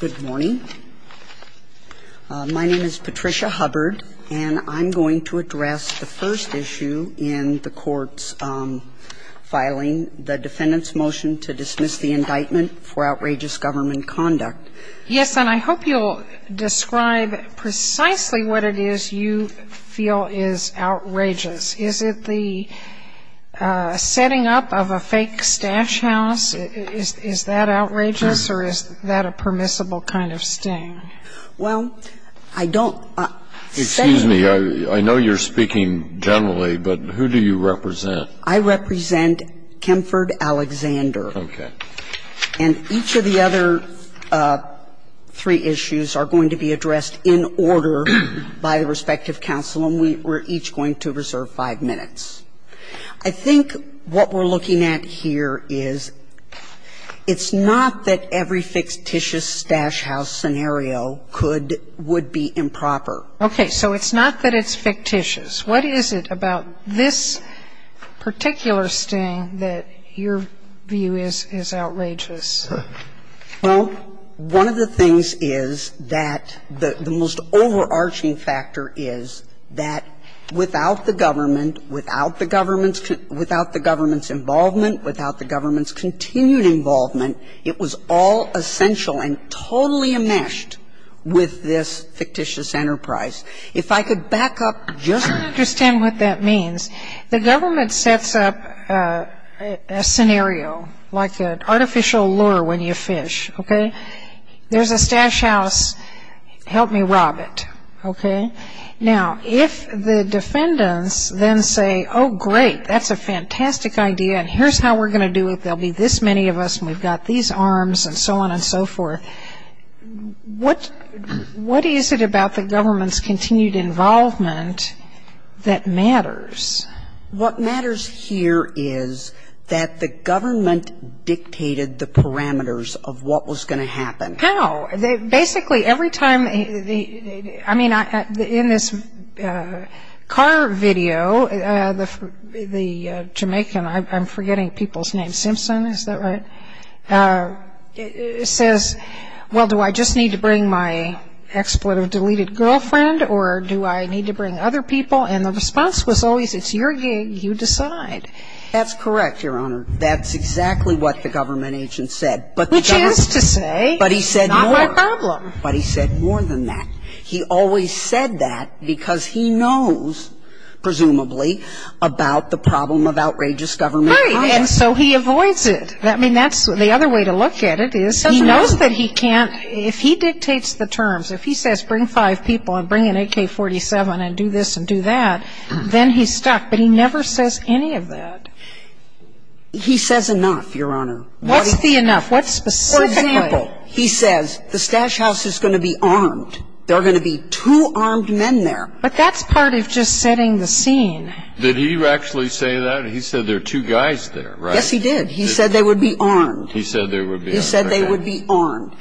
Good morning. My name is Patricia Hubbard, and I'm going to address the first issue in the court's filing, the defendant's motion to dismiss the indictment for outrageous government conduct. Yes, and I hope you'll describe precisely what it is you feel is outrageous. Is it the setting up of a fake stash house? Is that outrageous, or is that a permissible kind of sting? Well, I don't... Excuse me. I know you're speaking generally, but who do you represent? I represent Kemford Alexander. Okay. And each of the other three issues are going to be addressed in order by the respective counsel, and we're each going to reserve five minutes. I think what we're looking at here is it's not that every fictitious stash house scenario could, would be improper. Okay. So it's not that it's fictitious. What is it about this particular sting that your view is outrageous? Well, one of the things is that the most overarching factor is that without the government, without the government's involvement, without the government's continued involvement, it was all essential and totally enmeshed with this fictitious enterprise. If I could back up just... I don't understand what that means. The government sets up a scenario, like an artificial lure when you fish, okay? There's a stash house. Help me rob it, okay? Now, if the defendants then say, oh, great, that's a fantastic idea, and here's how we're going to do it, there'll be this many of us, and we've got these arms, and so on and so forth, what is it about the government's continued involvement that matters? What matters here is that the government dictated the parameters of what was going to happen. How? Basically, every time... I mean, in this car video, the Jamaican, I'm forgetting people's names, Simpson, is that right, says, well, do I just need to bring my exploitive deleted girlfriend, or do I need to bring other people? And the response was always, it's your gig, you decide. That's correct, Your Honor. That's exactly what the government agent said. Which is to say... But he said more. Not my problem. But he said more than that. He always said that because he knows, presumably, about the problem of outrageous government conduct. Right. And so he avoids it. I mean, that's the other way to look at it is he knows that he can't, if he dictates the terms, if he says bring five people and bring an AK-47 and do this and do that, then he's stuck. But he never says any of that. He says enough, Your Honor. What's the enough? What specifically? For example, he says the stash house is going to be armed. There are going to be two armed men there. But that's part of just setting the scene. Did he actually say that? He said there are two guys there, right? Yes, he did. He said they would be armed. He said they would be armed. He said they would be armed.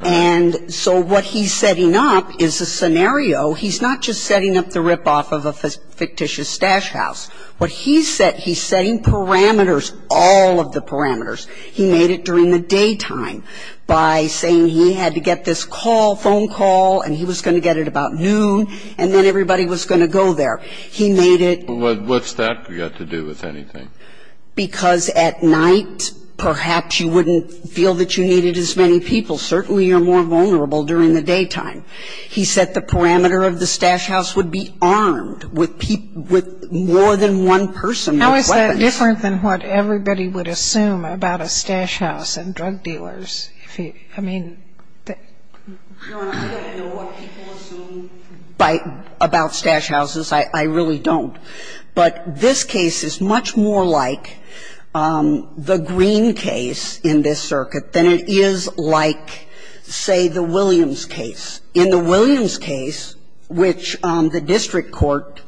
And so what he's setting up is a scenario. He's not just setting up the ripoff of a fictitious stash house. What he's setting, he's setting parameters, all of the parameters. He made it during the daytime by saying he had to get this call, phone call, and he was going to get it about noon, and then everybody was going to go there. He made it. What's that got to do with anything? Because at night, perhaps you wouldn't feel that you needed as many people. Certainly you're more vulnerable during the daytime. He said the parameter of the stash house would be armed with people, with more than one person with weapons. How is that different than what everybody would assume about a stash house and drug dealers? I mean, the ---- Your Honor, I don't know what people assume about stash houses. I really don't. But this case is much more like the Green case in this circuit than it is like, say, the Williams case. In the Williams case, which the district court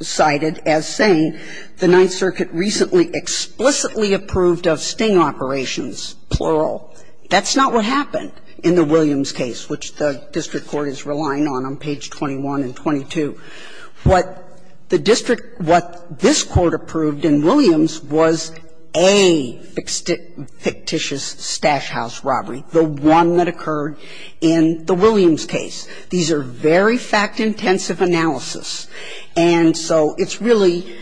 cited as saying the Ninth Circuit recently explicitly approved of sting operations, plural, that's not what happened in the Williams case, which the district court is relying on on page 21 and 22. What the district ---- what this Court approved in Williams was a fictitious stash house robbery, the one that occurred in the Williams case. These are very fact-intensive analysis. And so it's really,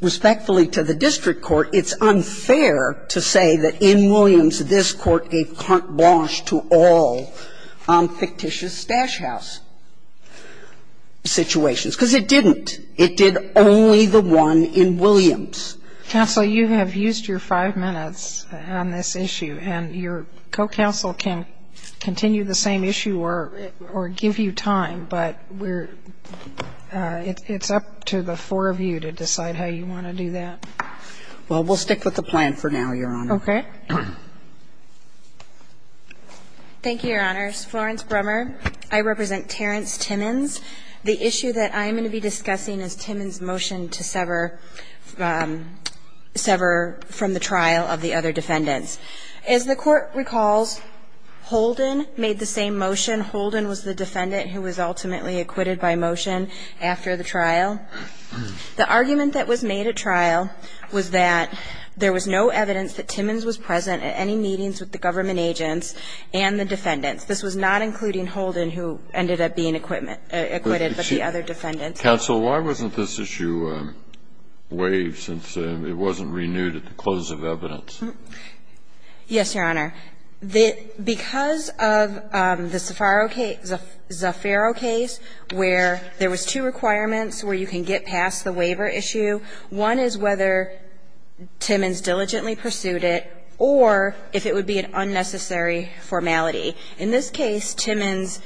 respectfully to the district court, it's unfair to say that in Williams, this Court gave carte blanche to all fictitious stash house situations, because it didn't. It did only the one in Williams. Counsel, you have used your five minutes on this issue. And your co-counsel can continue the same issue or give you time. But we're ---- it's up to the four of you to decide how you want to do that. Well, we'll stick with the plan for now, Your Honor. Okay. Thank you, Your Honors. Florence Brummer. I represent Terrence Timmons. The issue that I'm going to be discussing is Timmons' motion to sever from the trial of the other defendants. As the Court recalls, Holden made the same motion. Holden was the defendant who was ultimately acquitted by motion after the trial. The argument that was made at trial was that there was no evidence that Timmons was present at any meetings with the government agents and the defendants. This was not including Holden, who ended up being acquitted, but the other defendants. Counsel, why wasn't this issue waived since it wasn't renewed at the close of evidence? Yes, Your Honor. Because of the Zaffaro case where there was two requirements where you can get past the waiver issue, one is whether Timmons diligently pursued it or if it would be an unnecessary formality. In this case, Timmons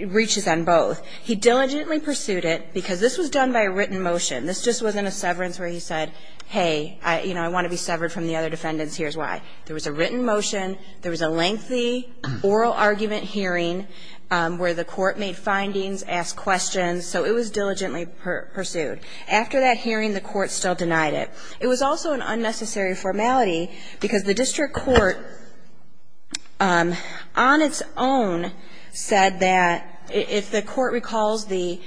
reaches on both. He diligently pursued it because this was done by a written motion. This just wasn't a severance where he said, hey, you know, I want to be severed from the other defendants, here's why. There was a written motion. There was a lengthy oral argument hearing where the Court made findings, asked questions. So it was diligently pursued. After that hearing, the Court still denied it. It was also an unnecessary formality because the district court on its own said that if the court recalls the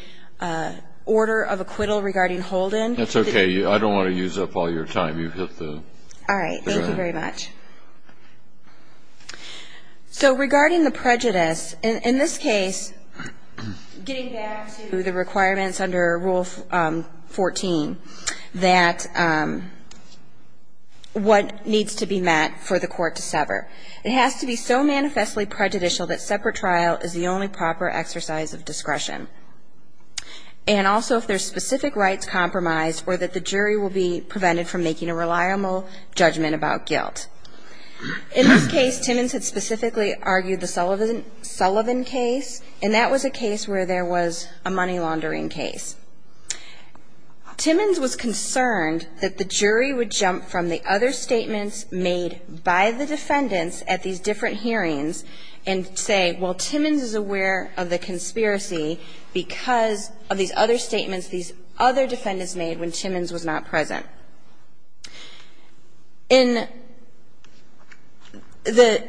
order of acquittal regarding Holden. That's okay. I don't want to use up all your time. You've hit the ground. All right. Thank you very much. So regarding the prejudice, in this case, getting back to the requirements under Rule 14, that what needs to be met for the court to sever. It has to be so manifestly prejudicial that separate trial is the only proper exercise of discretion. And also if there's specific rights compromised or that the jury will be prevented from making a reliable judgment about guilt. In this case, Timmons had specifically argued the Sullivan case, and that was a case where there was a money laundering case. Timmons was concerned that the jury would jump from the other statements made by the defendants at these different hearings and say, well, Timmons is aware of the conspiracy because of these other statements these other defendants made when Timmons was not present. In the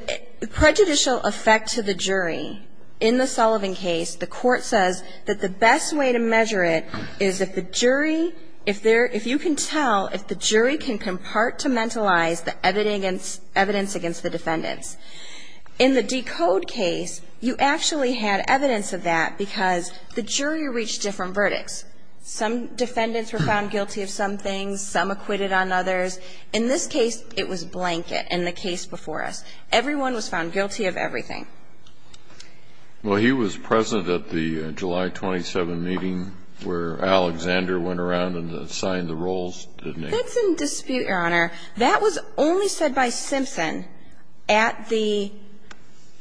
prejudicial effect to the jury, in the Sullivan case, the court says that the best way to measure it is if the jury, if you can tell if the jury can compartmentalize the evidence against the defendants. In the Decode case, you actually had evidence of that because the jury reached different verdicts. Some defendants were found guilty of some things, some acquitted on others. In this case, it was blanket in the case before us. Everyone was found guilty of everything. Well, he was present at the July 27 meeting where Alexander went around and signed the rules, didn't he? That's in dispute, Your Honor. That was only said by Simpson at the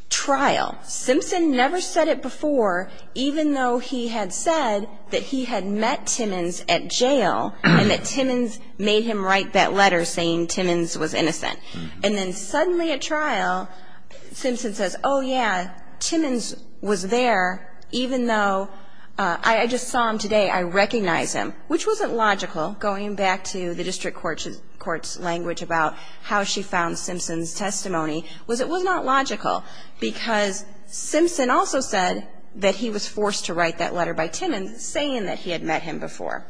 trial. Simpson never said it before, even though he had said that he had met Timmons at jail and that Timmons made him write that letter saying Timmons was innocent. And then suddenly at trial, Simpson says, oh, yeah, Timmons was there even though I just saw him today, I recognize him, which wasn't logical, going back to the district court's language about how she found Simpson's testimony, was it was not logical because Simpson also said that he was forced to write that letter by Timmons saying that he had met him before.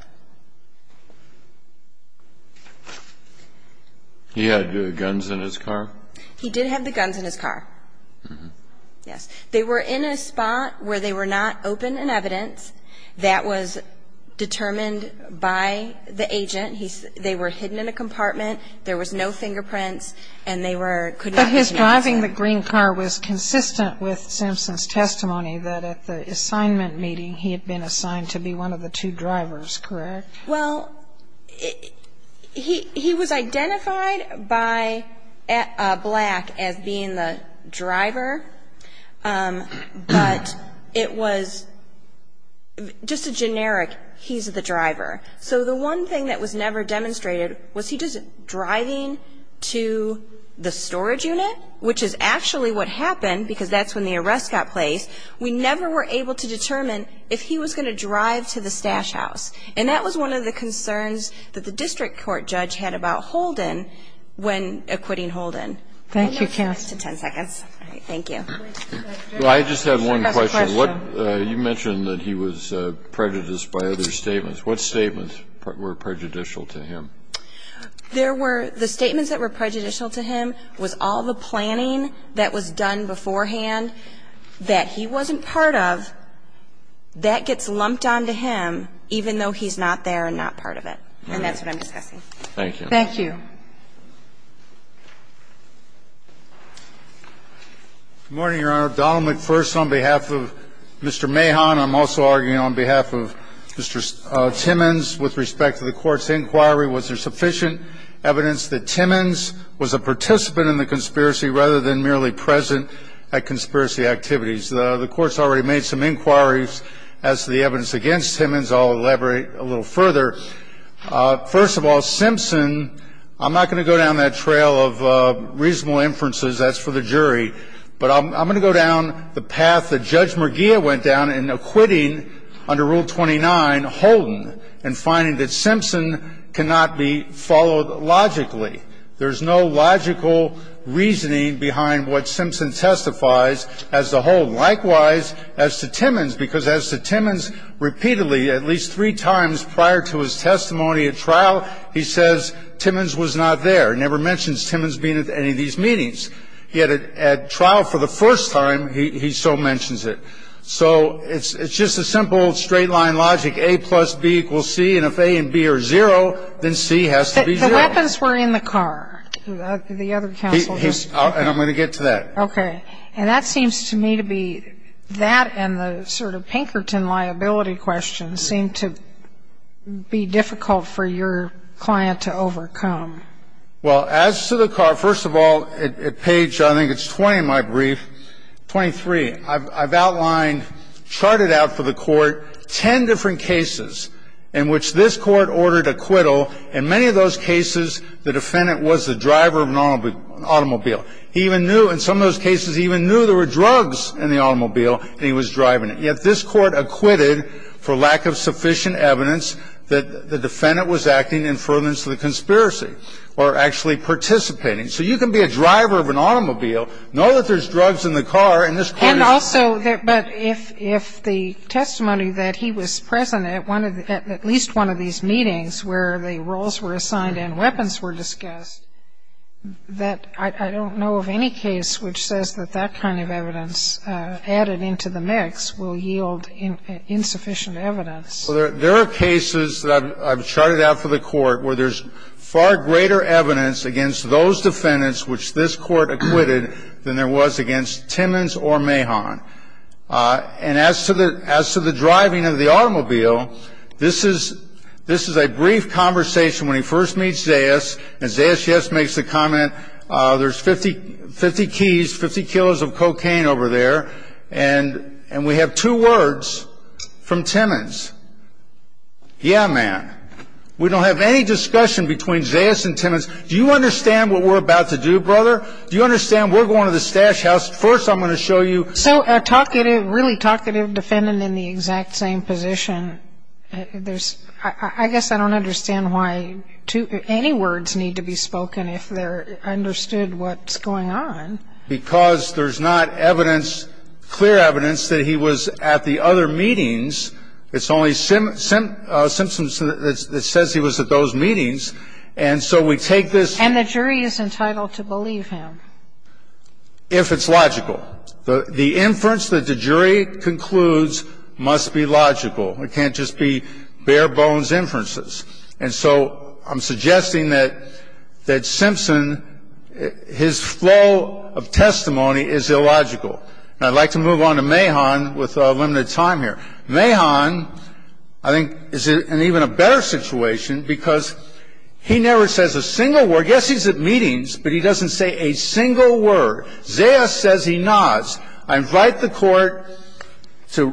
He had the guns in his car? He did have the guns in his car. Yes. They were in a spot where they were not open in evidence. That was determined by the agent. They were hidden in a compartment. There was no fingerprints, and they were, could not be known to him. But his driving the green car was consistent with Simpson's testimony that at the assignment meeting he had been assigned to be one of the two drivers, correct? Well, he was identified by Black as being the driver, but it was just a generic he's the driver. So the one thing that was never demonstrated was he just driving to the storage unit, which is actually what happened, because that's when the arrest got placed. We never were able to determine if he was going to drive to the stash house, and that was one of the concerns that the district court judge had about Holden when acquitting Holden. Thank you, counsel. You have ten seconds. All right. Thank you. I just have one question. You mentioned that he was prejudiced by other statements. What statements were prejudicial to him? There were the statements that were prejudicial to him was all the planning that was done beforehand that he wasn't part of. That gets lumped onto him, even though he's not there and not part of it. And that's what I'm discussing. Thank you. Good morning, Your Honor. Donald McPherson on behalf of Mr. Mahon. I'm also arguing on behalf of Mr. Timmons. With respect to the Court's inquiry, was there sufficient evidence that Timmons was a participant in the conspiracy rather than merely present at conspiracy activities? The Court's already made some inquiries as to the evidence against Timmons. I'll elaborate a little further. First of all, Simpson, I'm not going to go down that trail of reasonable inferences. That's for the jury. But I'm going to go down the path that Judge Murgia went down in acquitting, under Rule 29, Holden and finding that Simpson cannot be followed logically. There's no logical reasoning behind what Simpson testifies as to Holden. Likewise, as to Timmons, because as to Timmons, repeatedly at least three times prior to his testimony at trial, he says Timmons was not there. He never mentions Timmons being at any of these meetings. Yet at trial for the first time, he so mentions it. So it's just a simple straight-line logic, A plus B equals C. And if A and B are zero, then C has to be zero. The weapons were in the car, the other counsel. And I'm going to get to that. Okay. And that seems to me to be that and the sort of Pinkerton liability question seem to be difficult for your client to overcome. Well, as to the car, first of all, at page, I think it's 20 in my brief, 23, I've outlined, charted out for the Court, ten different cases in which this Court ordered acquittal. In many of those cases, the defendant was the driver of an automobile. He even knew in some of those cases, he even knew there were drugs in the automobile and he was driving it. And if the defendant was acting in fullness of the conspiracy or actually participating, so you can be a driver of an automobile, know that there's drugs in the car and this Court is not. And also, but if the testimony that he was present at one of the at least one of these meetings where the roles were assigned and weapons were discussed, that I don't know of any case which says that that kind of evidence added into the mix will yield insufficient evidence. Well, there are cases that I've charted out for the Court where there's far greater evidence against those defendants which this Court acquitted than there was against Timmons or Mahon. And as to the driving of the automobile, this is a brief conversation when he first meets Zayas, and Zayas, yes, makes the comment, there's 50 keys, 50 kilos of cocaine over there, and we have two words from Timmons. Yeah, man. We don't have any discussion between Zayas and Timmons. Do you understand what we're about to do, brother? Do you understand we're going to the stash house. First, I'm going to show you. So a talkative, really talkative defendant in the exact same position, there's, I guess I don't understand why any words need to be spoken if they're understood what's going on. Because there's not evidence, clear evidence that he was at the other meetings. It's only symptoms that says he was at those meetings. And so we take this. And the jury is entitled to believe him. If it's logical. The inference that the jury concludes must be logical. It can't just be bare bones inferences. And so I'm suggesting that Simpson, his flow of testimony is illogical. And I'd like to move on to Mahon with limited time here. Mahon, I think, is in even a better situation because he never says a single word. Yes, he's at meetings, but he doesn't say a single word. Zayas says he nods. I invite the Court to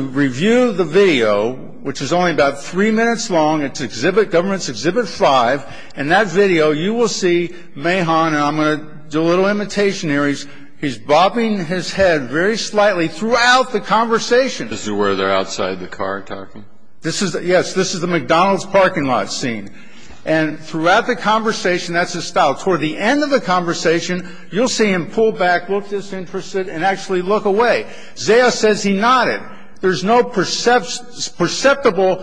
review the video, which is only about three minutes long. It's Exhibit Government's Exhibit 5. In that video, you will see Mahon, and I'm going to do a little imitation here. He's bobbing his head very slightly throughout the conversation. This is where they're outside the car talking? This is, yes. This is the McDonald's parking lot scene. And throughout the conversation, that's his style. Toward the end of the conversation, you'll see him pull back, look disinterested and actually look away. Zayas says he nodded. There's no perceptible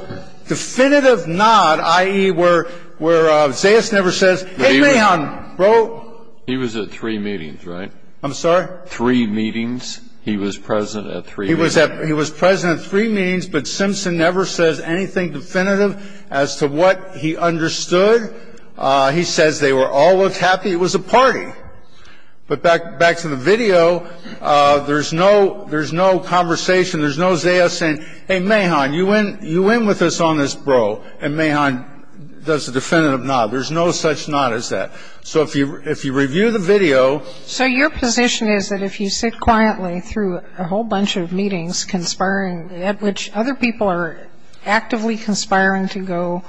definitive nod, i.e., where Zayas never says, hey, Mahon, bro. He was at three meetings, right? I'm sorry? Three meetings. He was present at three meetings. He was present at three meetings, but Simpson never says anything definitive as to what he understood. He says they were all looked happy. It was a party. But back to the video, there's no conversation. There's no Zayas saying, hey, Mahon, you win with us on this, bro. And Mahon does a definitive nod. There's no such nod as that. So if you review the video ---- So your position is that if you sit quietly through a whole bunch of meetings conspiring at which other people are actively conspiring to go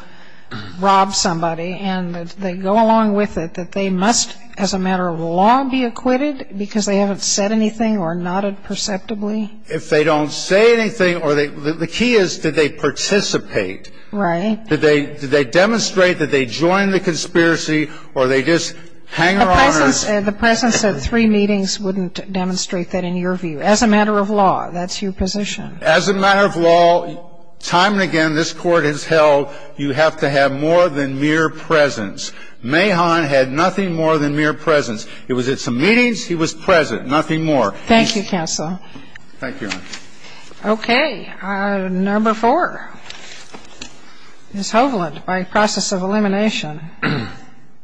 rob somebody and they go along with it, that they must, as a matter of law, be acquitted because they haven't said anything or nodded perceptibly? If they don't say anything or they ---- the key is, did they participate? Right. Did they demonstrate that they joined the conspiracy or they just hang around or ---- The presence at three meetings wouldn't demonstrate that in your view. As a matter of law, that's your position. As a matter of law, time and again, this Court has held you have to have more than mere presence. Mahon had nothing more than mere presence. He was at some meetings. He was present. Nothing more. Thank you, counsel. Thank you, Your Honor. Okay. Number four. Ms. Hovland, by process of elimination.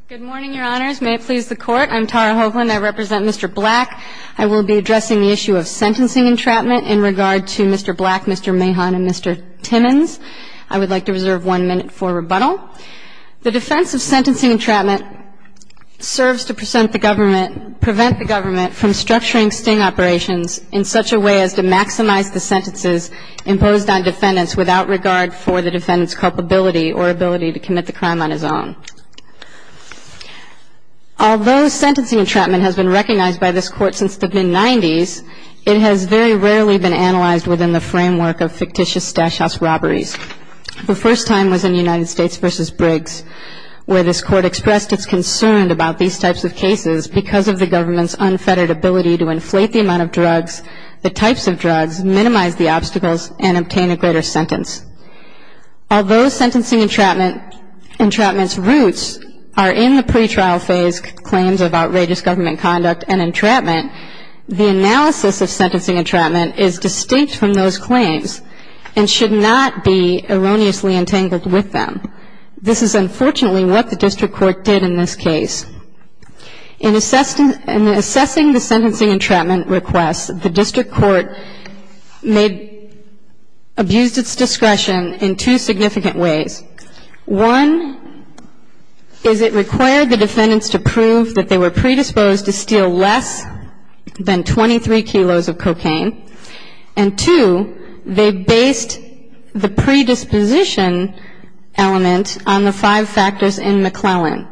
Good morning, Your Honors. May it please the Court. I'm Tara Hovland. I represent Mr. Black. I will be addressing the issue of sentencing entrapment in regard to Mr. Black, Mr. Mahon, and Mr. Timmons. I would like to reserve one minute for rebuttal. The defense of sentencing entrapment serves to present the government, prevent the government from structuring sting operations in such a way as to maximize the sentences imposed on defendants without regard for the defendant's culpability or ability to commit the crime on his own. Although sentencing entrapment has been recognized by this Court since the mid-'90s, it has very rarely been analyzed within the framework of fictitious stash house robberies. The first time was in United States v. Briggs, where this Court expressed its concern about these types of cases because of the government's unfettered ability to inflate the amount of drugs, the types of drugs, minimize the obstacles, and obtain a greater sentence. Although sentencing entrapment's roots are in the pretrial phase claims of outrageous government conduct and entrapment, the analysis of sentencing entrapment is distinct from those claims and should not be erroneously entangled with them. This is unfortunately what the district court did in this case. In assessing the sentencing entrapment request, the district court abused its discretion in two significant ways. One is it required the defendants to prove that they were predisposed to steal less than 23 kilos of cocaine. And two, they based the predisposition element on the five factors in McClellan.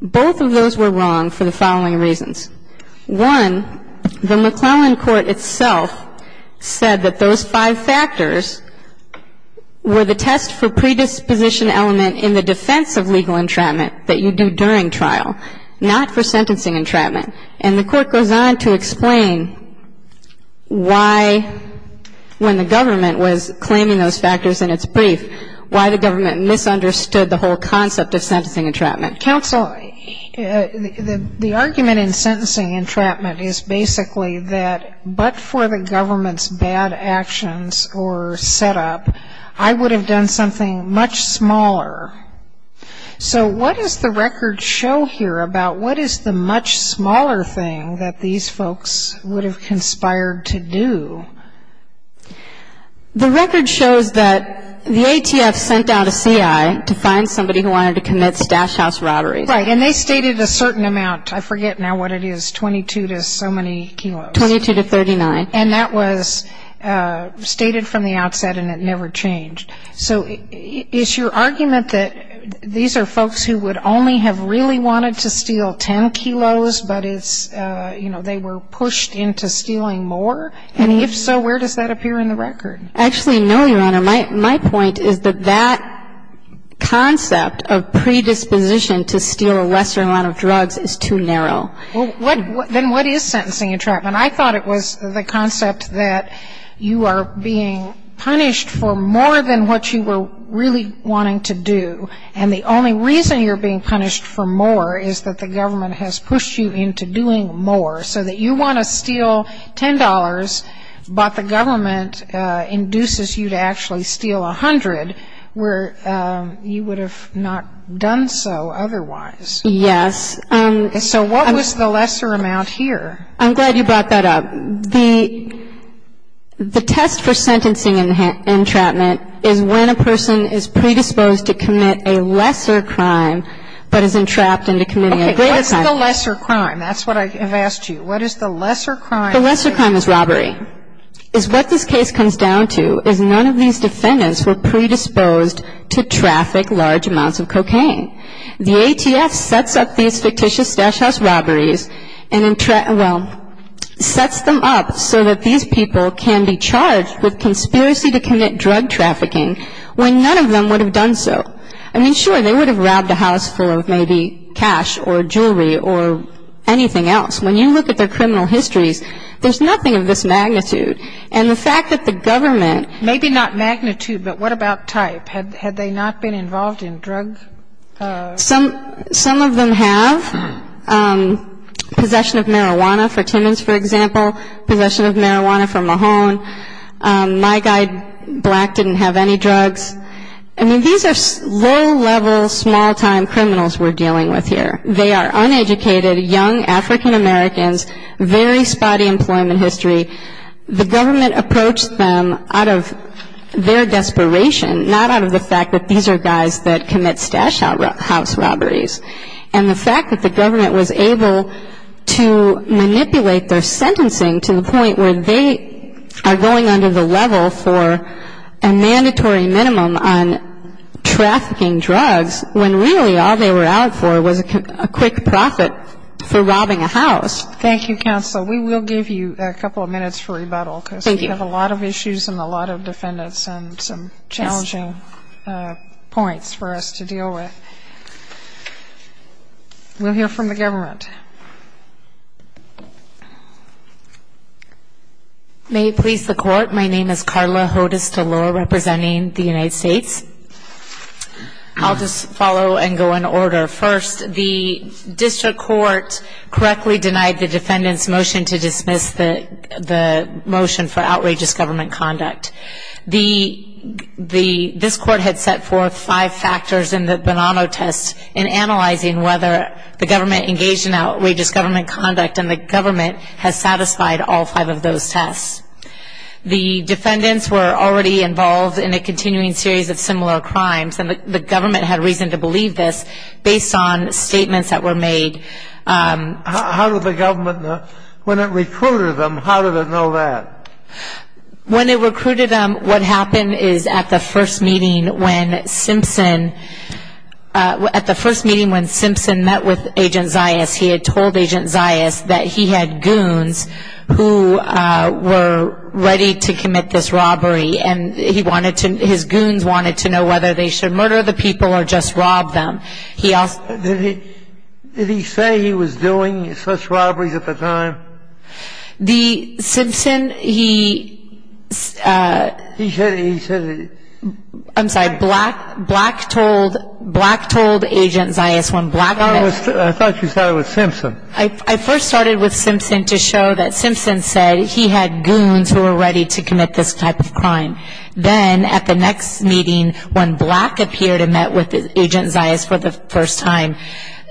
Both of those were wrong for the following reasons. One, the McClellan court itself said that those five factors were the test for predisposition element in the defense of legal entrapment that you do during trial, not for sentencing entrapment. And the court goes on to explain why, when the government was claiming those factors in its brief, why the government misunderstood the whole concept of sentencing entrapment. Counsel, the argument in sentencing entrapment is basically that but for the government's bad actions or setup, I would have done something much smaller. So what does the record show here about what is the much smaller thing that these folks would have conspired to do? The record shows that the ATF sent out a CI to find somebody who wanted to commit stash house robberies. Right. And they stated a certain amount. I forget now what it is, 22 to so many kilos. 22 to 39. And that was stated from the outset, and it never changed. So is your argument that these are folks who would only have really wanted to steal 10 kilos, but it's, you know, they were pushed into stealing more? And if so, where does that appear in the record? Actually, no, Your Honor. My point is that that concept of predisposition to steal a lesser amount of drugs is too narrow. Well, then what is sentencing entrapment? I thought it was the concept that you are being punished for more than what you were really wanting to do. And the only reason you're being punished for more is that the government has pushed you into doing more, so that you want to steal $10, but the government induces you to actually steal 100, where you would have not done so otherwise. Yes. So what was the lesser amount here? I'm glad you brought that up. The test for sentencing entrapment is when a person is predisposed to commit a lesser crime, but is entrapped into committing a greater crime. Okay. I've asked you, what is the lesser crime? The lesser crime is robbery. What this case comes down to is none of these defendants were predisposed to traffic large amounts of cocaine. The ATF sets up these fictitious stash house robberies and, well, sets them up so that these people can be charged with conspiracy to commit drug trafficking when none of them would have done so. I mean, sure, they would have robbed a house full of maybe cash or jewelry or anything else. When you look at their criminal histories, there's nothing of this magnitude. And the fact that the government — Maybe not magnitude, but what about type? Had they not been involved in drug — Some of them have. Possession of marijuana for Timmons, for example, possession of marijuana for Mahone. My guy, Black, didn't have any drugs. I mean, these are low-level, small-time criminals we're dealing with here. They are uneducated, young African Americans, very spotty employment history. The government approached them out of their desperation, not out of the fact that these are guys that commit stash house robberies. And the fact that the government was able to manipulate their sentencing to the point where they are going under the level for a mandatory minimum on trafficking drugs when really all they were out for was a quick profit for robbing a house. Thank you, counsel. We will give you a couple of minutes for rebuttal. Thank you. Because we have a lot of issues and a lot of defendants and some challenging points for us to deal with. We'll hear from the government. May it please the Court, my name is Carla Hodes-Delore, representing the United States. I'll just follow and go in order. First, the district court correctly denied the defendant's motion to dismiss the motion for outrageous government conduct. This court had set forth five factors in the Bonanno test in analyzing whether the government engaged in outrageous government conduct and the government has satisfied all five of those tests. The defendants were already involved in a continuing series of similar crimes and the government had reason to believe this based on statements that were made. How did the government know? When it recruited them, how did it know that? When it recruited them, what happened is at the first meeting when Simpson met with Agent Zayas, he had told Agent Zayas that he had goons who were ready to commit this robbery and his goons wanted to know whether they should murder the people or just rob them. Did he say he was doing such robberies at the time? The Simpson, he... He said... I'm sorry, Black told Agent Zayas when Black met... I thought you said it was Simpson. I first started with Simpson to show that Simpson said he had goons who were ready to commit this type of crime. Then at the next meeting when Black appeared and met with Agent Zayas for the first time,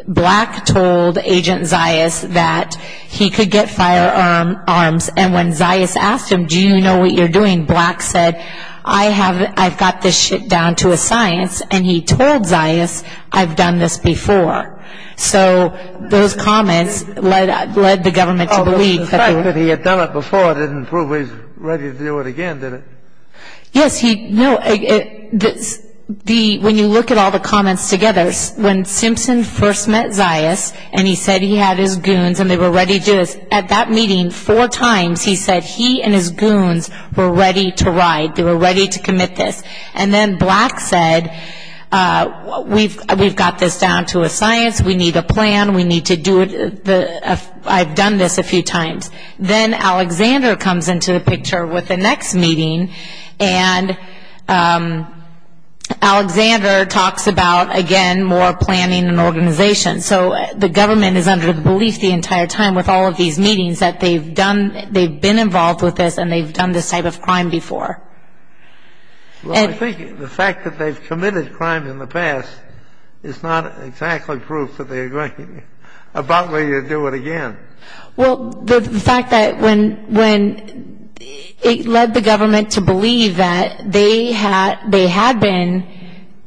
Black told Agent Zayas that he could get firearms and when Zayas asked him, do you know what you're doing, Black said, I've got this shit down to a science and he told Zayas, I've done this before. So those comments led the government to believe... The fact that he had done it before didn't prove he was ready to do it again, did it? Yes, he... When you look at all the comments together, when Simpson first met Zayas and he said he had his goons and they were ready to do this, at that meeting four times he said he and his goons were ready to ride, they were ready to commit this. And then Black said, we've got this down to a science, we need a plan, we need to do it... I've done this a few times. Then Alexander comes into the picture with the next meeting and Alexander talks about, again, more planning and organization. So the government is under the belief the entire time with all of these meetings that they've been involved with this and they've done this type of crime before. Well, I think the fact that they've committed crime in the past is not exactly proof that they're going to do it again. Well, the fact that when it led the government to believe that they had been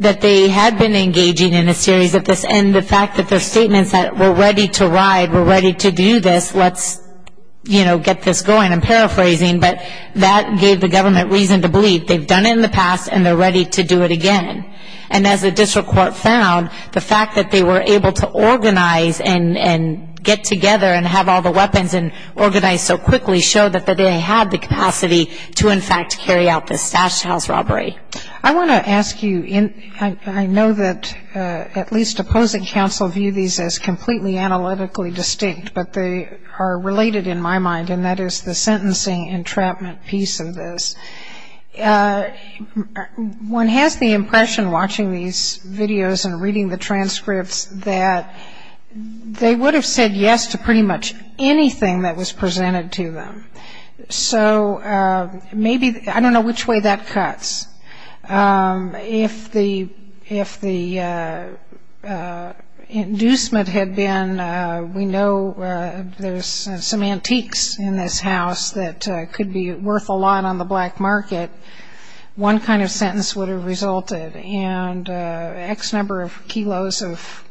engaging in a series of this and the fact that their statements that we're ready to ride, we're ready to do this, let's get this going, I'm paraphrasing, but that gave the government reason to believe they've done it in the past and they're ready to do it again. And as the district court found, the fact that they were able to organize and get together and have all the weapons and organize so quickly showed that they had the capacity to, in fact, carry out this stash house robbery. I want to ask you, I know that at least opposing counsel view these as completely analytically distinct, but they are related in my mind, and that is the sentencing entrapment piece of this. One has the impression watching these videos and reading the transcripts that they would have said yes to pretty much anything that was presented to them. So maybe, I don't know which way that cuts. If the inducement had been, we know there's some antiques in this house that could be worth a lot on the black market, one kind of sentence would have resulted. And X number of kilos of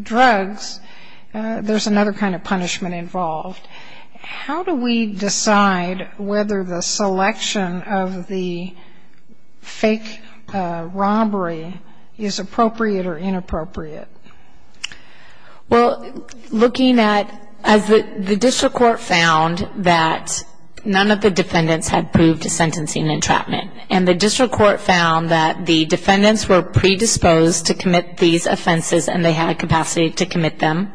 drugs, there's another kind of punishment involved. How do we decide whether the selection of the fake robbery is appropriate or inappropriate? Well, looking at, the district court found that none of the defendants had proved a sentencing entrapment. And the district court found that the defendants were predisposed to commit these offenses and they had capacity to commit them.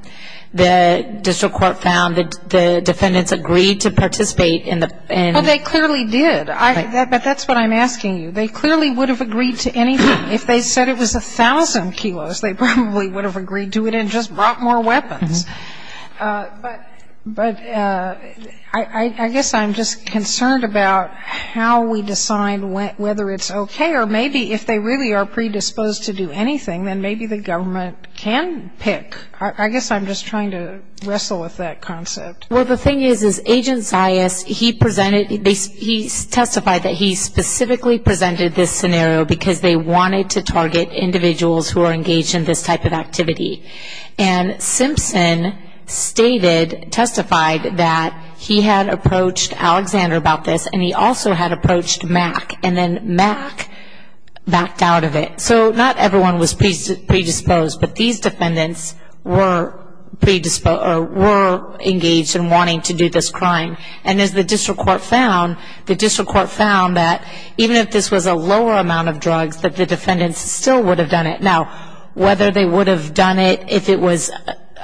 The district court found that the defendants agreed to participate in the... Well, they clearly did, but that's what I'm asking you. They clearly would have agreed to anything. If they said it was 1,000 kilos, they probably would have agreed to it and just brought more weapons. But I guess I'm just concerned about how we decide whether it's okay or maybe if they really are predisposed to do anything, then maybe the government can pick. I guess I'm just trying to wrestle with that concept. Well, the thing is, is Agent Zayas, he presented, he testified that he specifically presented this scenario because they wanted to target individuals who are engaged in this type of activity. And Simpson stated, testified that he had approached Alexander about this and he also had approached Mack, and then Mack backed out of it. So not everyone was predisposed, but these defendants were engaged in wanting to do this crime. And as the district court found, the district court found that even if this was a lower amount of drugs, that the defendants still would have done it. Now, whether they would have done it if it was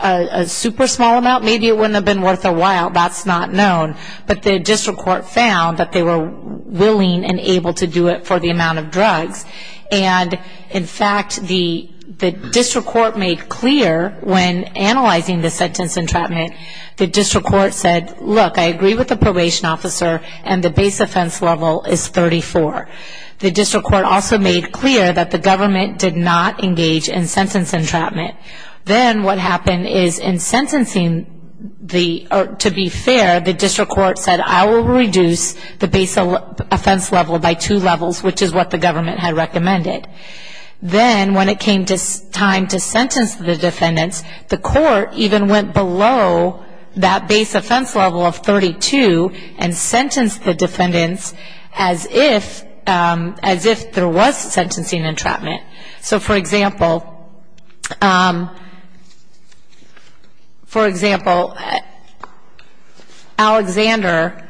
a super small amount, maybe it wouldn't have been worth a while, that's not known. But the district court found that they were willing and able to do it for the amount of drugs. And in fact, the district court made clear when analyzing the sentence entrapment, the district court said, look, I agree with the probation officer and the base offense level is 34. The district court also made clear that the government did not engage in sentence entrapment. Then what happened is in sentencing, to be fair, the district court said, I will reduce the base offense level by two levels, which is what the government had recommended. Then when it came time to sentence the defendants, the court even went below that base offense level of 32 and sentenced the defendants as if there was sentencing entrapment. So for example, Alexander,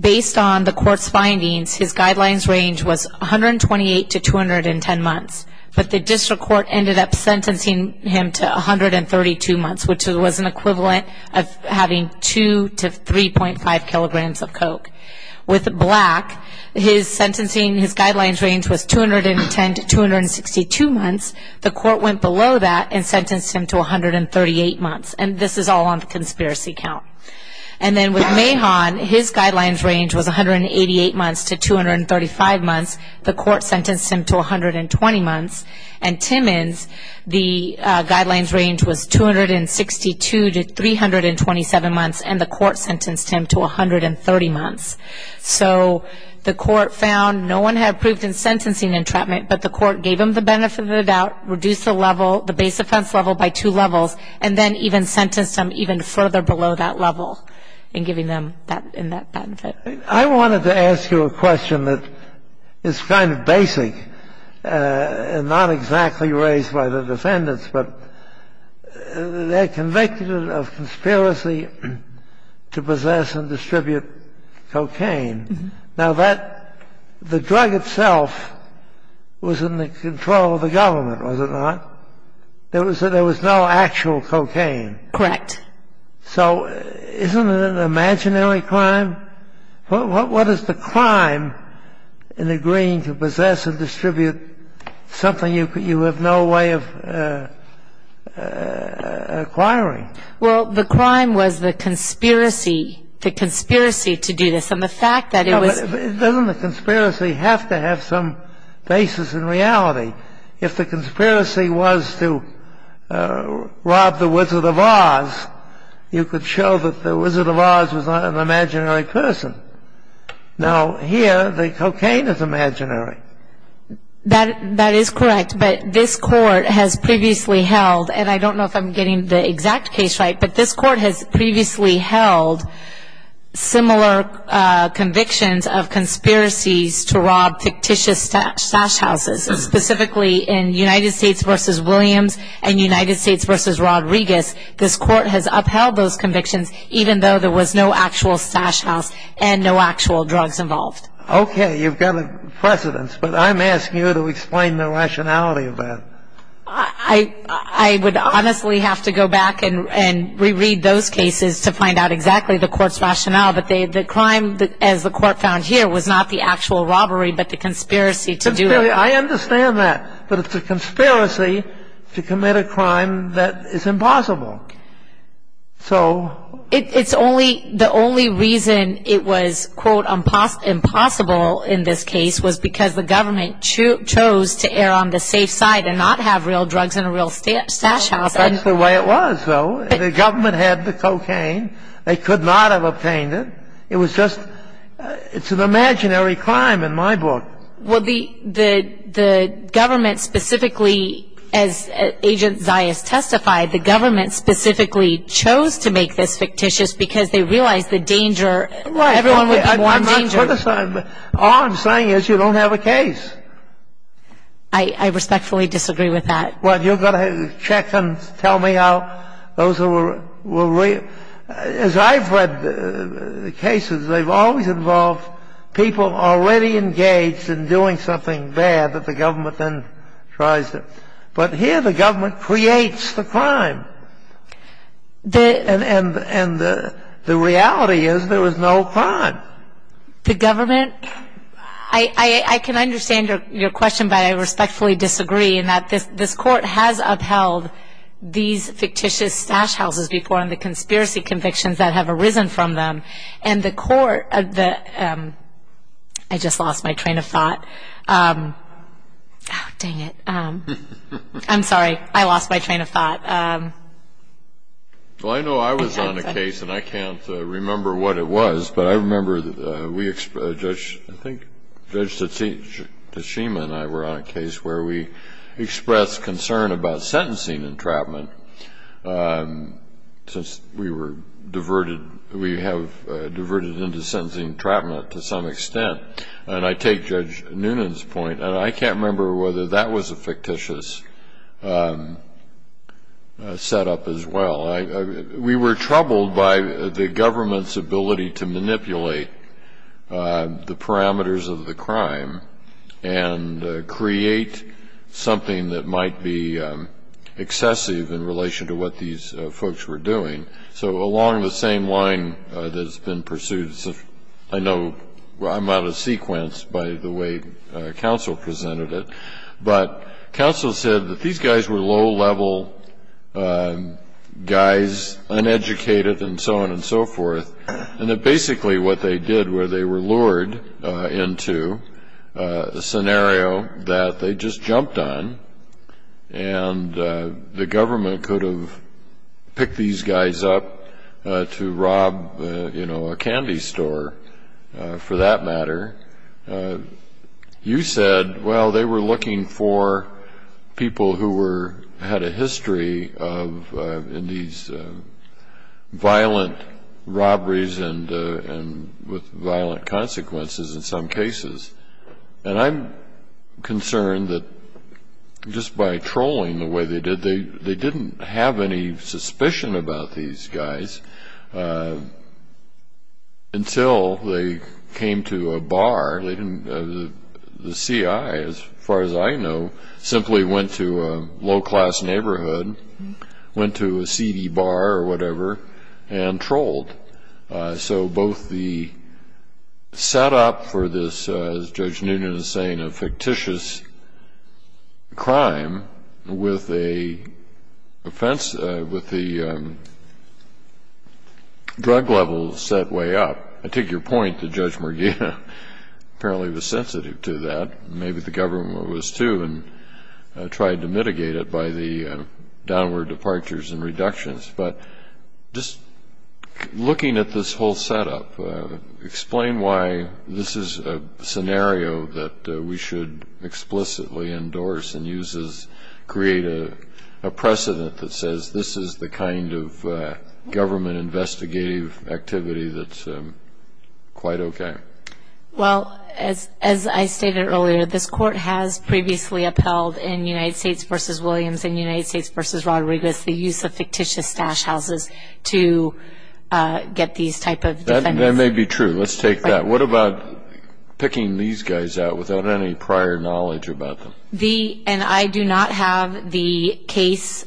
based on the court's findings, his guidelines range was 128 to 210 months. But the district court ended up sentencing him to 132 months, which was an equivalent of having 2 to 3.5 kilograms of coke. With Black, his guidelines range was 210 to 262 months. The court went below that and sentenced him to 138 months. And this is all on the conspiracy count. And then with Mahon, his guidelines range was 188 months to 235 months. The court sentenced him to 120 months. And Timmons, the guidelines range was 262 to 327 months. And the court sentenced him to 130 months. So the court found no one had proved in sentencing entrapment, but the court gave him the benefit of the doubt, reduced the base offense level by two levels, and then even sentenced him even further below that level in giving them that benefit. I wanted to ask you a question that is kind of basic and not exactly raised by the defendants, but they're convicted of conspiracy to possess and distribute cocaine. Now, the drug itself was in the control of the government, was it not? There was no actual cocaine. Correct. So isn't it an imaginary crime? What is the crime in agreeing to possess and distribute something you have no way of acquiring? Well, the crime was the conspiracy, the conspiracy to do this. And the fact that it was... Doesn't the conspiracy have to have some basis in reality? If the conspiracy was to rob the Wizard of Oz, you could show that the Wizard of Oz was not an imaginary person. Now, here, the cocaine is imaginary. That is correct, but this court has previously held, and I don't know if I'm getting the exact case right, but this court has previously held similar convictions of conspiracies to rob fictitious stash houses, specifically in United States v. Williams and United States v. Rodriguez. This court has upheld those convictions even though there was no actual stash house and no actual drugs involved. Okay, you've got a precedence, but I'm asking you to explain the rationality of that. I would honestly have to go back and reread those cases to find out exactly the court's rationale, but the crime, as the court found here, was not the actual robbery but the conspiracy to do it. I understand that, but it's a conspiracy to commit a crime that is impossible. So... It's only... The only reason it was, quote, impossible in this case was because the government chose to err on the safe side and not have real drugs in a real stash house. That's the way it was, though. The government had the cocaine. They could not have obtained it. It was just... It's an imaginary crime in my book. Well, the government specifically, as Agent Zayas testified, the government specifically chose to make this fictitious because they realized the danger. Right. Everyone would be more in danger. I'm not criticizing. All I'm saying is you don't have a case. I respectfully disagree with that. Well, you've got to check and tell me how those were real. As I've read the cases, they've always involved people already engaged in doing something bad that the government then tries to... But here the government creates the crime. And the reality is there was no crime. The government... I can understand your question, but I respectfully disagree in that this court has upheld these fictitious stash houses before and the conspiracy convictions that have arisen from them. And the court... I just lost my train of thought. Dang it. I'm sorry. I lost my train of thought. Well, I know I was on a case, and I can't remember what it was, but I remember we... I think Judge Tashima and I were on a case where we expressed concern about sentencing entrapment since we were diverted... we have diverted into sentencing entrapment to some extent. And I take Judge Noonan's point, and I can't remember whether that was a fictitious setup as well. We were troubled by the government's ability to manipulate the parameters of the crime and create something that might be excessive in relation to what these folks were doing. So along the same line that has been pursued... I know I'm out of sequence by the way counsel presented it, but counsel said that these guys were low-level guys, uneducated, and so on and so forth, and that basically what they did was they were lured into a scenario that they just jumped on, and the government could have picked these guys up to rob a candy store for that matter. You said, well, they were looking for people who had a history in these violent robberies and with violent consequences in some cases. And I'm concerned that just by trolling the way they did, they didn't have any suspicion about these guys until they came to a bar. The CIA, as far as I know, simply went to a low-class neighborhood, went to a seedy bar or whatever, and trolled. So both the setup for this, as Judge Noonan is saying, a fictitious crime with a drug level set way up. I take your point that Judge Morgana apparently was sensitive to that. Maybe the government was too and tried to mitigate it by the downward departures and reductions. But just looking at this whole setup, explain why this is a scenario that we should explicitly endorse and create a precedent that says this is the kind of government investigative activity that's quite okay. Well, as I stated earlier, this Court has previously upheld in United States v. Williams and United States v. Rodriguez the use of fictitious stash houses to get these type of defendants. That may be true. Let's take that. What about picking these guys out without any prior knowledge about them? And I do not have the case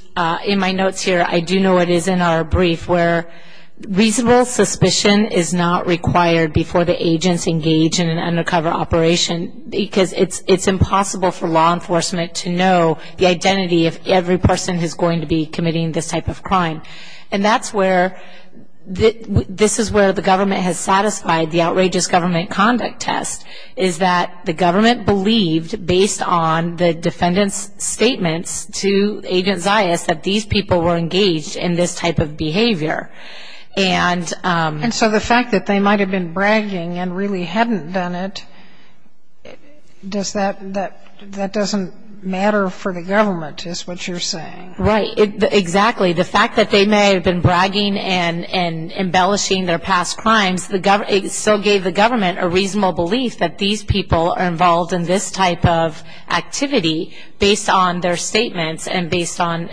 in my notes here. I do know it is in our brief where reasonable suspicion is not required before the agents engage in an undercover operation because it's impossible for law enforcement to know the identity of every person who's going to be committing this type of crime. And that's where this is where the government has satisfied the outrageous government conduct test, is that the government believed, based on the defendant's statements to Agent Zayas, that these people were engaged in this type of behavior. And so the fact that they might have been bragging and really hadn't done it, that doesn't matter for the government is what you're saying? Right. Exactly. The fact that they may have been bragging and embellishing their past crimes, it still gave the government a reasonable belief that these people are involved in this type of activity based on their statements and based on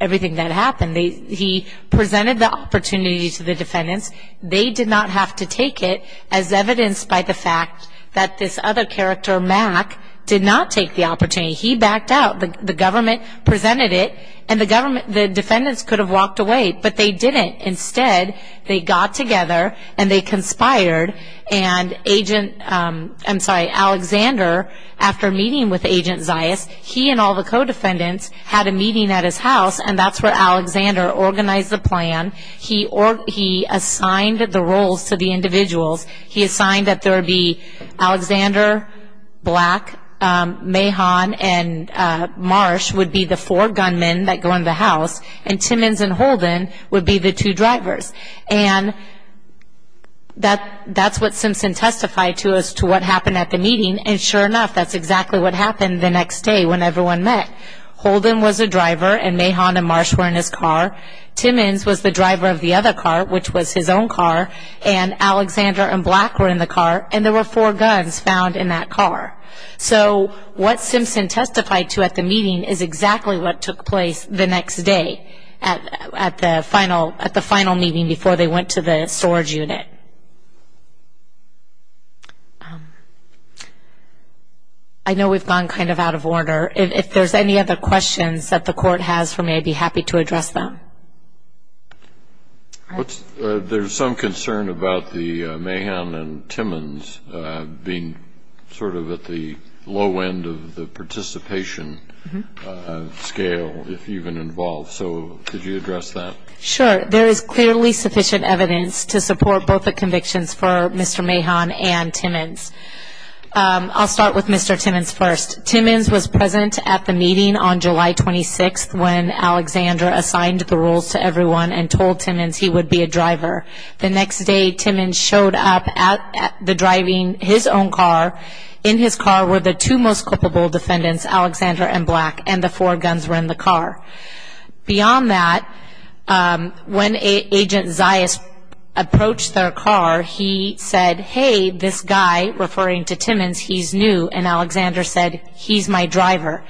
everything that happened. He presented the opportunity to the defendants. They did not have to take it as evidenced by the fact that this other character, Mack, did not take the opportunity. He backed out. The government presented it, and the defendants could have walked away, but they didn't. Instead, they got together and they conspired, and Alexander, after meeting with Agent Zayas, he and all the co-defendants had a meeting at his house, and that's where Alexander organized the plan. He assigned the roles to the individuals. He assigned that there would be Alexander, Black, Mahon, and Marsh would be the four gunmen that go in the house, and Timmons and Holden would be the two drivers. And that's what Simpson testified to as to what happened at the meeting, and sure enough, that's exactly what happened the next day when everyone met. Holden was a driver, and Mahon and Marsh were in his car. Timmons was the driver of the other car, which was his own car, and Alexander and Black were in the car, and there were four guns found in that car. So what Simpson testified to at the meeting is exactly what took place the next day at the final meeting before they went to the storage unit. I know we've gone kind of out of order. If there's any other questions that the Court has for me, I'd be happy to address them. There's some concern about the Mahon and Timmons being sort of at the low end of the participation scale, if even involved, so could you address that? Sure. There is clearly sufficient evidence to support both the convictions for Mr. Mahon and Timmons. I'll start with Mr. Timmons first. Timmons was present at the meeting on July 26th when Alexander assigned the rules to everyone and told Timmons he would be a driver. The next day, Timmons showed up driving his own car. In his car were the two most culpable defendants, Alexander and Black, and the four guns were in the car. Beyond that, when Agent Zayas approached their car, he said, hey, this guy, referring to Timmons, he's new, and Alexander said, he's my driver.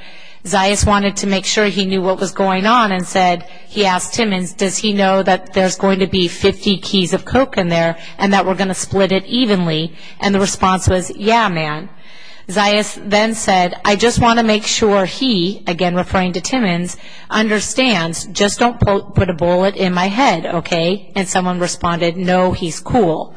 Zayas wanted to make sure he knew what was going on and said, he asked Timmons, does he know that there's going to be 50 keys of coke in there and that we're going to split it evenly? And the response was, yeah, man. Zayas then said, I just want to make sure he, again referring to Timmons, understands. Just don't put a bullet in my head, okay? And someone responded, no, he's cool.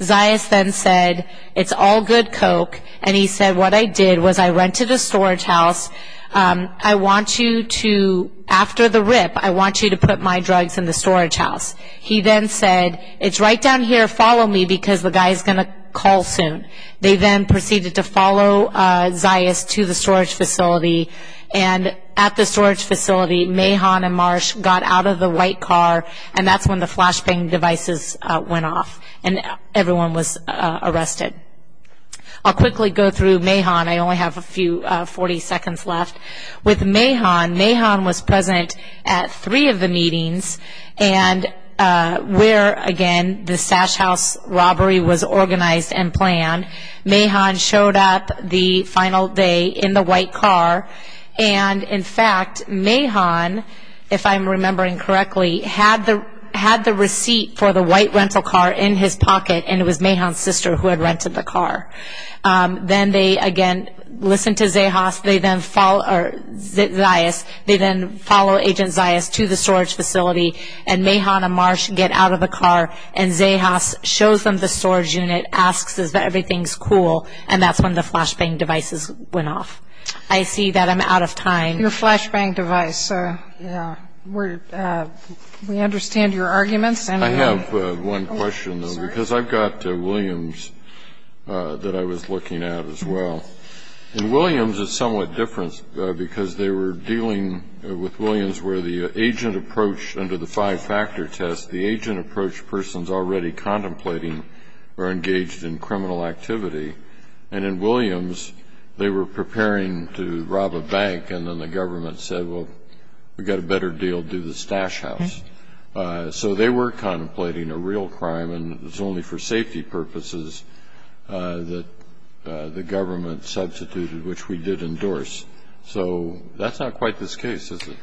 Zayas then said, it's all good coke, and he said, what I did was I rented a storage house. I want you to, after the rip, I want you to put my drugs in the storage house. He then said, it's right down here, follow me, because the guy is going to call soon. They then proceeded to follow Zayas to the storage facility, and at the storage facility, Mahon and Marsh got out of the white car, and that's when the flashbang devices went off, and everyone was arrested. I'll quickly go through Mahon. I only have a few 40 seconds left. With Mahon, Mahon was present at three of the meetings, and where, again, the Sash House robbery was organized and planned. Mahon showed up the final day in the white car, and, in fact, Mahon, if I'm remembering correctly, had the receipt for the white rental car in his pocket, and it was Mahon's sister who had rented the car. Then they, again, listened to Zayas, they then follow Agent Zayas to the storage facility, and Mahon and Marsh get out of the car, and Zayas shows them the storage unit, asks if everything is cool, and that's when the flashbang devices went off. I see that I'm out of time. Your flashbang device. We understand your arguments. I have one question, though, because I've got Williams that I was looking at as well. In Williams, it's somewhat different because they were dealing with Williams where the agent approach under the five-factor test, the agent approach persons already contemplating are engaged in criminal activity, and in Williams, they were preparing to rob a bank, and then the government said, well, we've got a better deal, do the Sash House. So they were contemplating a real crime, and it was only for safety purposes that the government substituted, which we did endorse. So that's not quite this case, is it?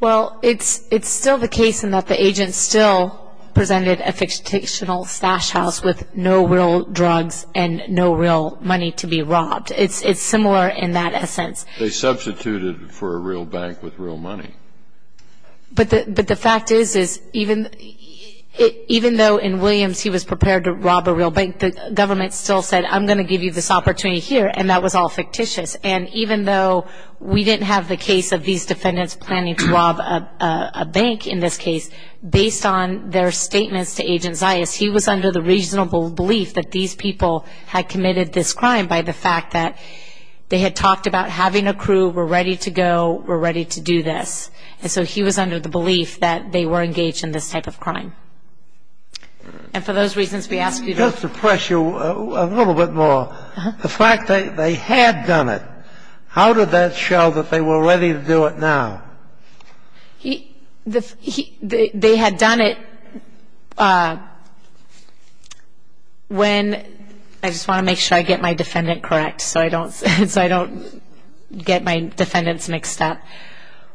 Well, it's still the case in that the agent still presented a fictional Sash House with no real drugs and no real money to be robbed. It's similar in that essence. They substituted for a real bank with real money. But the fact is, even though in Williams he was prepared to rob a real bank, the government still said, I'm going to give you this opportunity here, and that was all fictitious. And even though we didn't have the case of these defendants planning to rob a bank in this case, based on their statements to Agent Zayas, he was under the reasonable belief that these people had committed this crime by the fact that they had talked about having a crew, we're ready to go, we're ready to do this. And so he was under the belief that they were engaged in this type of crime. And for those reasons, we ask you to a little bit more. The fact that they had done it, how did that show that they were ready to do it now? They had done it when ‑‑ I just want to make sure I get my defendant correct so I don't get my defendants mixed up.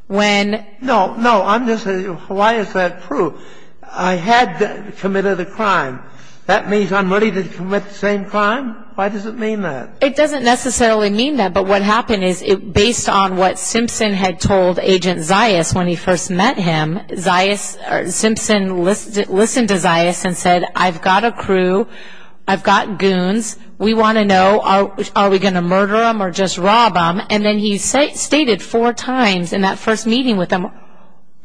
When ‑‑ No, no, I'm just saying, why is that true? I had committed a crime. That means I'm ready to commit the same crime? Why does it mean that? It doesn't necessarily mean that, but what happened is, based on what Simpson had told Agent Zayas when he first met him, Zayas ‑‑ Simpson listened to Zayas and said, I've got a crew, I've got goons, we want to know, are we going to murder them or just rob them? And then he stated four times in that first meeting with him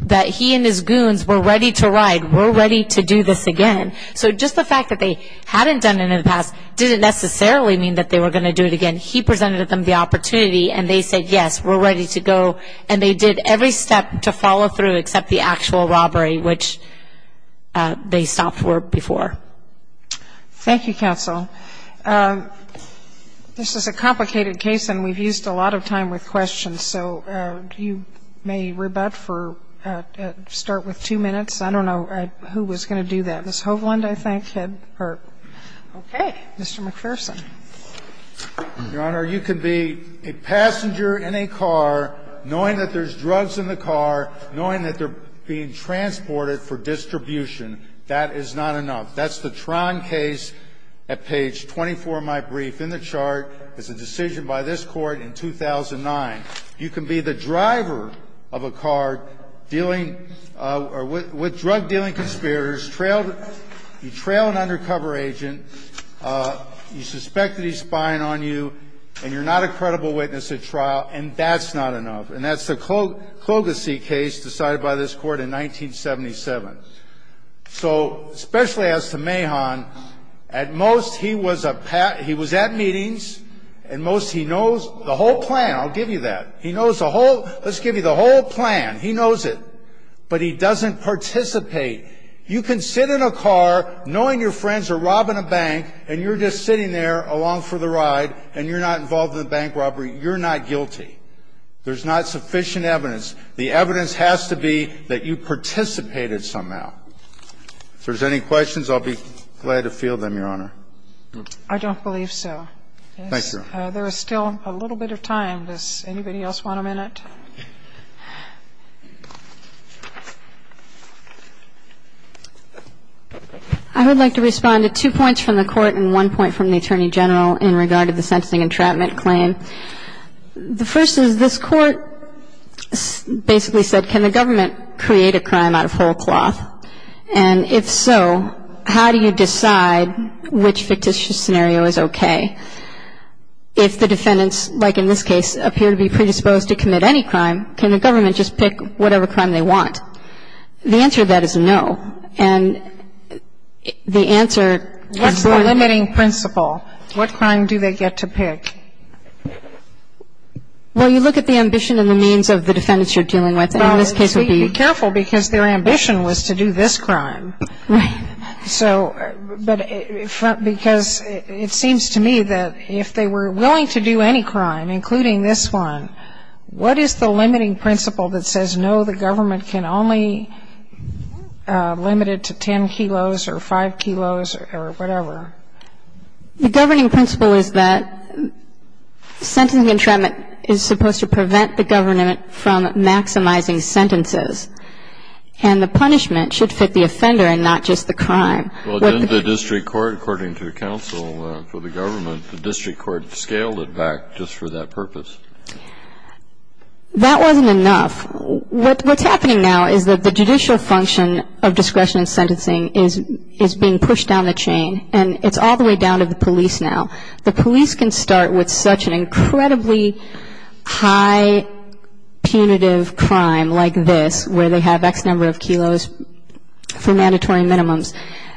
that he and his goons were ready to ride, we're ready to do this again. So just the fact that they hadn't done it in the past didn't necessarily mean that they were going to do it again. He presented them the opportunity, and they said, yes, we're ready to go, and they did every step to follow through except the actual robbery, which they stopped for before. Thank you, counsel. This is a complicated case, and we've used a lot of time with questions, and so you may rebut for ‑‑ start with two minutes. I don't know who was going to do that. Ms. Hovland, I think, had her. Okay. Mr. McPherson. Your Honor, you could be a passenger in a car, knowing that there's drugs in the car, knowing that they're being transported for distribution. That is not enough. That's the Tron case at page 24 of my brief in the chart. It's a decision by this Court in 2009. You can be the driver of a car dealing ‑‑ with drug‑dealing conspirators, you trail an undercover agent, you suspect that he's spying on you, and you're not a credible witness at trial, and that's not enough. And that's the Klogesi case decided by this Court in 1977. So, especially as to Mahon, at most he was a ‑‑ he was at meetings, and most he knows the whole plan. I'll give you that. He knows the whole ‑‑ let's give you the whole plan. He knows it. But he doesn't participate. You can sit in a car, knowing your friends are robbing a bank, and you're just sitting there along for the ride, and you're not involved in the bank robbery. You're not guilty. There's not sufficient evidence. The evidence has to be that you participated somehow. If there's any questions, I'll be glad to field them, Your Honor. I don't believe so. Thank you, Your Honor. There is still a little bit of time. Does anybody else want a minute? I would like to respond to two points from the Court and one point from the Attorney General in regard to the sentencing entrapment claim. The first is this Court basically said, can the government create a crime out of whole cloth? And if so, how do you decide which fictitious scenario is okay? If the defendants, like in this case, appear to be predisposed to commit any crime, can the government just pick whatever crime they want? The answer to that is no. And the answer ‑‑ What's the limiting principle? What crime do they get to pick? Well, you look at the ambition and the means of the defendants you're dealing with, and in this case it would be ‑‑ Well, be careful because their ambition was to do this crime. Right. So, but because it seems to me that if they were willing to do any crime, including this one, what is the limiting principle that says no, the government can only limit it to 10 kilos or 5 kilos or whatever? The governing principle is that sentencing entrapment is supposed to prevent the government from maximizing sentences. And the punishment should fit the offender and not just the crime. Well, didn't the district court, according to counsel for the government, the district court scaled it back just for that purpose? That wasn't enough. What's happening now is that the judicial function of discretion in sentencing is being pushed down the chain. And it's all the way down to the police now. The police can start with such an incredibly high punitive crime like this, where they have X number of kilos for mandatory minimums,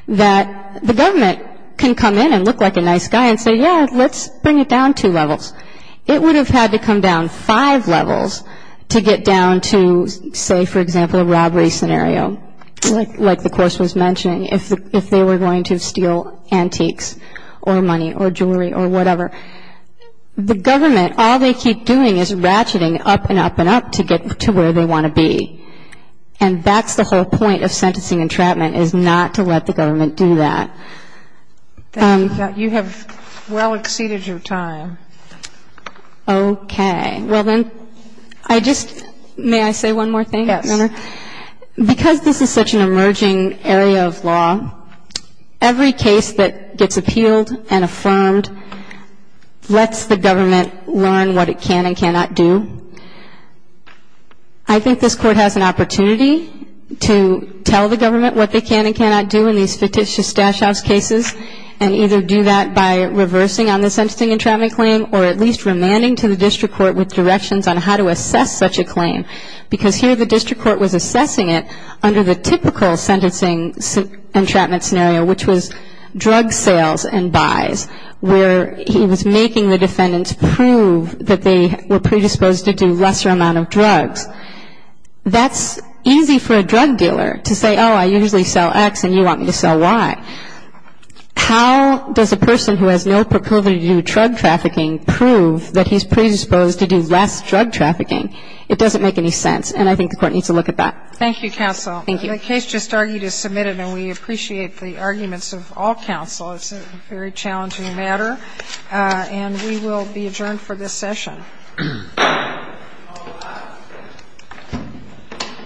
that the government can come in and look like a nice guy and say, yeah, let's bring it down two levels. It would have had to come down five levels to get down to, say, for example, a robbery scenario, like the course was mentioning, if they were going to steal antiques or money or jewelry or whatever. The government, all they keep doing is ratcheting up and up and up to get to where they want to be. And that's the whole point of sentencing entrapment is not to let the government do that. Thank you. You have well exceeded your time. Okay. Well, then, I just, may I say one more thing? Yes. Because this is such an emerging area of law, every case that gets appealed and affirmed lets the government learn what it can and cannot do. I think this Court has an opportunity to tell the government what they can and cannot do in these fictitious stash house cases and either do that by reversing on this sentencing entrapment claim or at least remanding to the district court with directions on how to assess such a claim. Because here the district court was assessing it under the typical sentencing entrapment scenario, which was drug sales and buys, where he was making the defendants prove that they were predisposed to do lesser amount of drugs. That's easy for a drug dealer to say, oh, I usually sell X and you want me to sell Y. How does a person who has no proclivity to do drug trafficking prove that he's predisposed to do less drug trafficking? It doesn't make any sense. And I think the Court needs to look at that. Thank you, counsel. Thank you. The case just argued is submitted and we appreciate the arguments of all counsel. It's a very challenging matter. And we will be adjourned for this session. Thank you.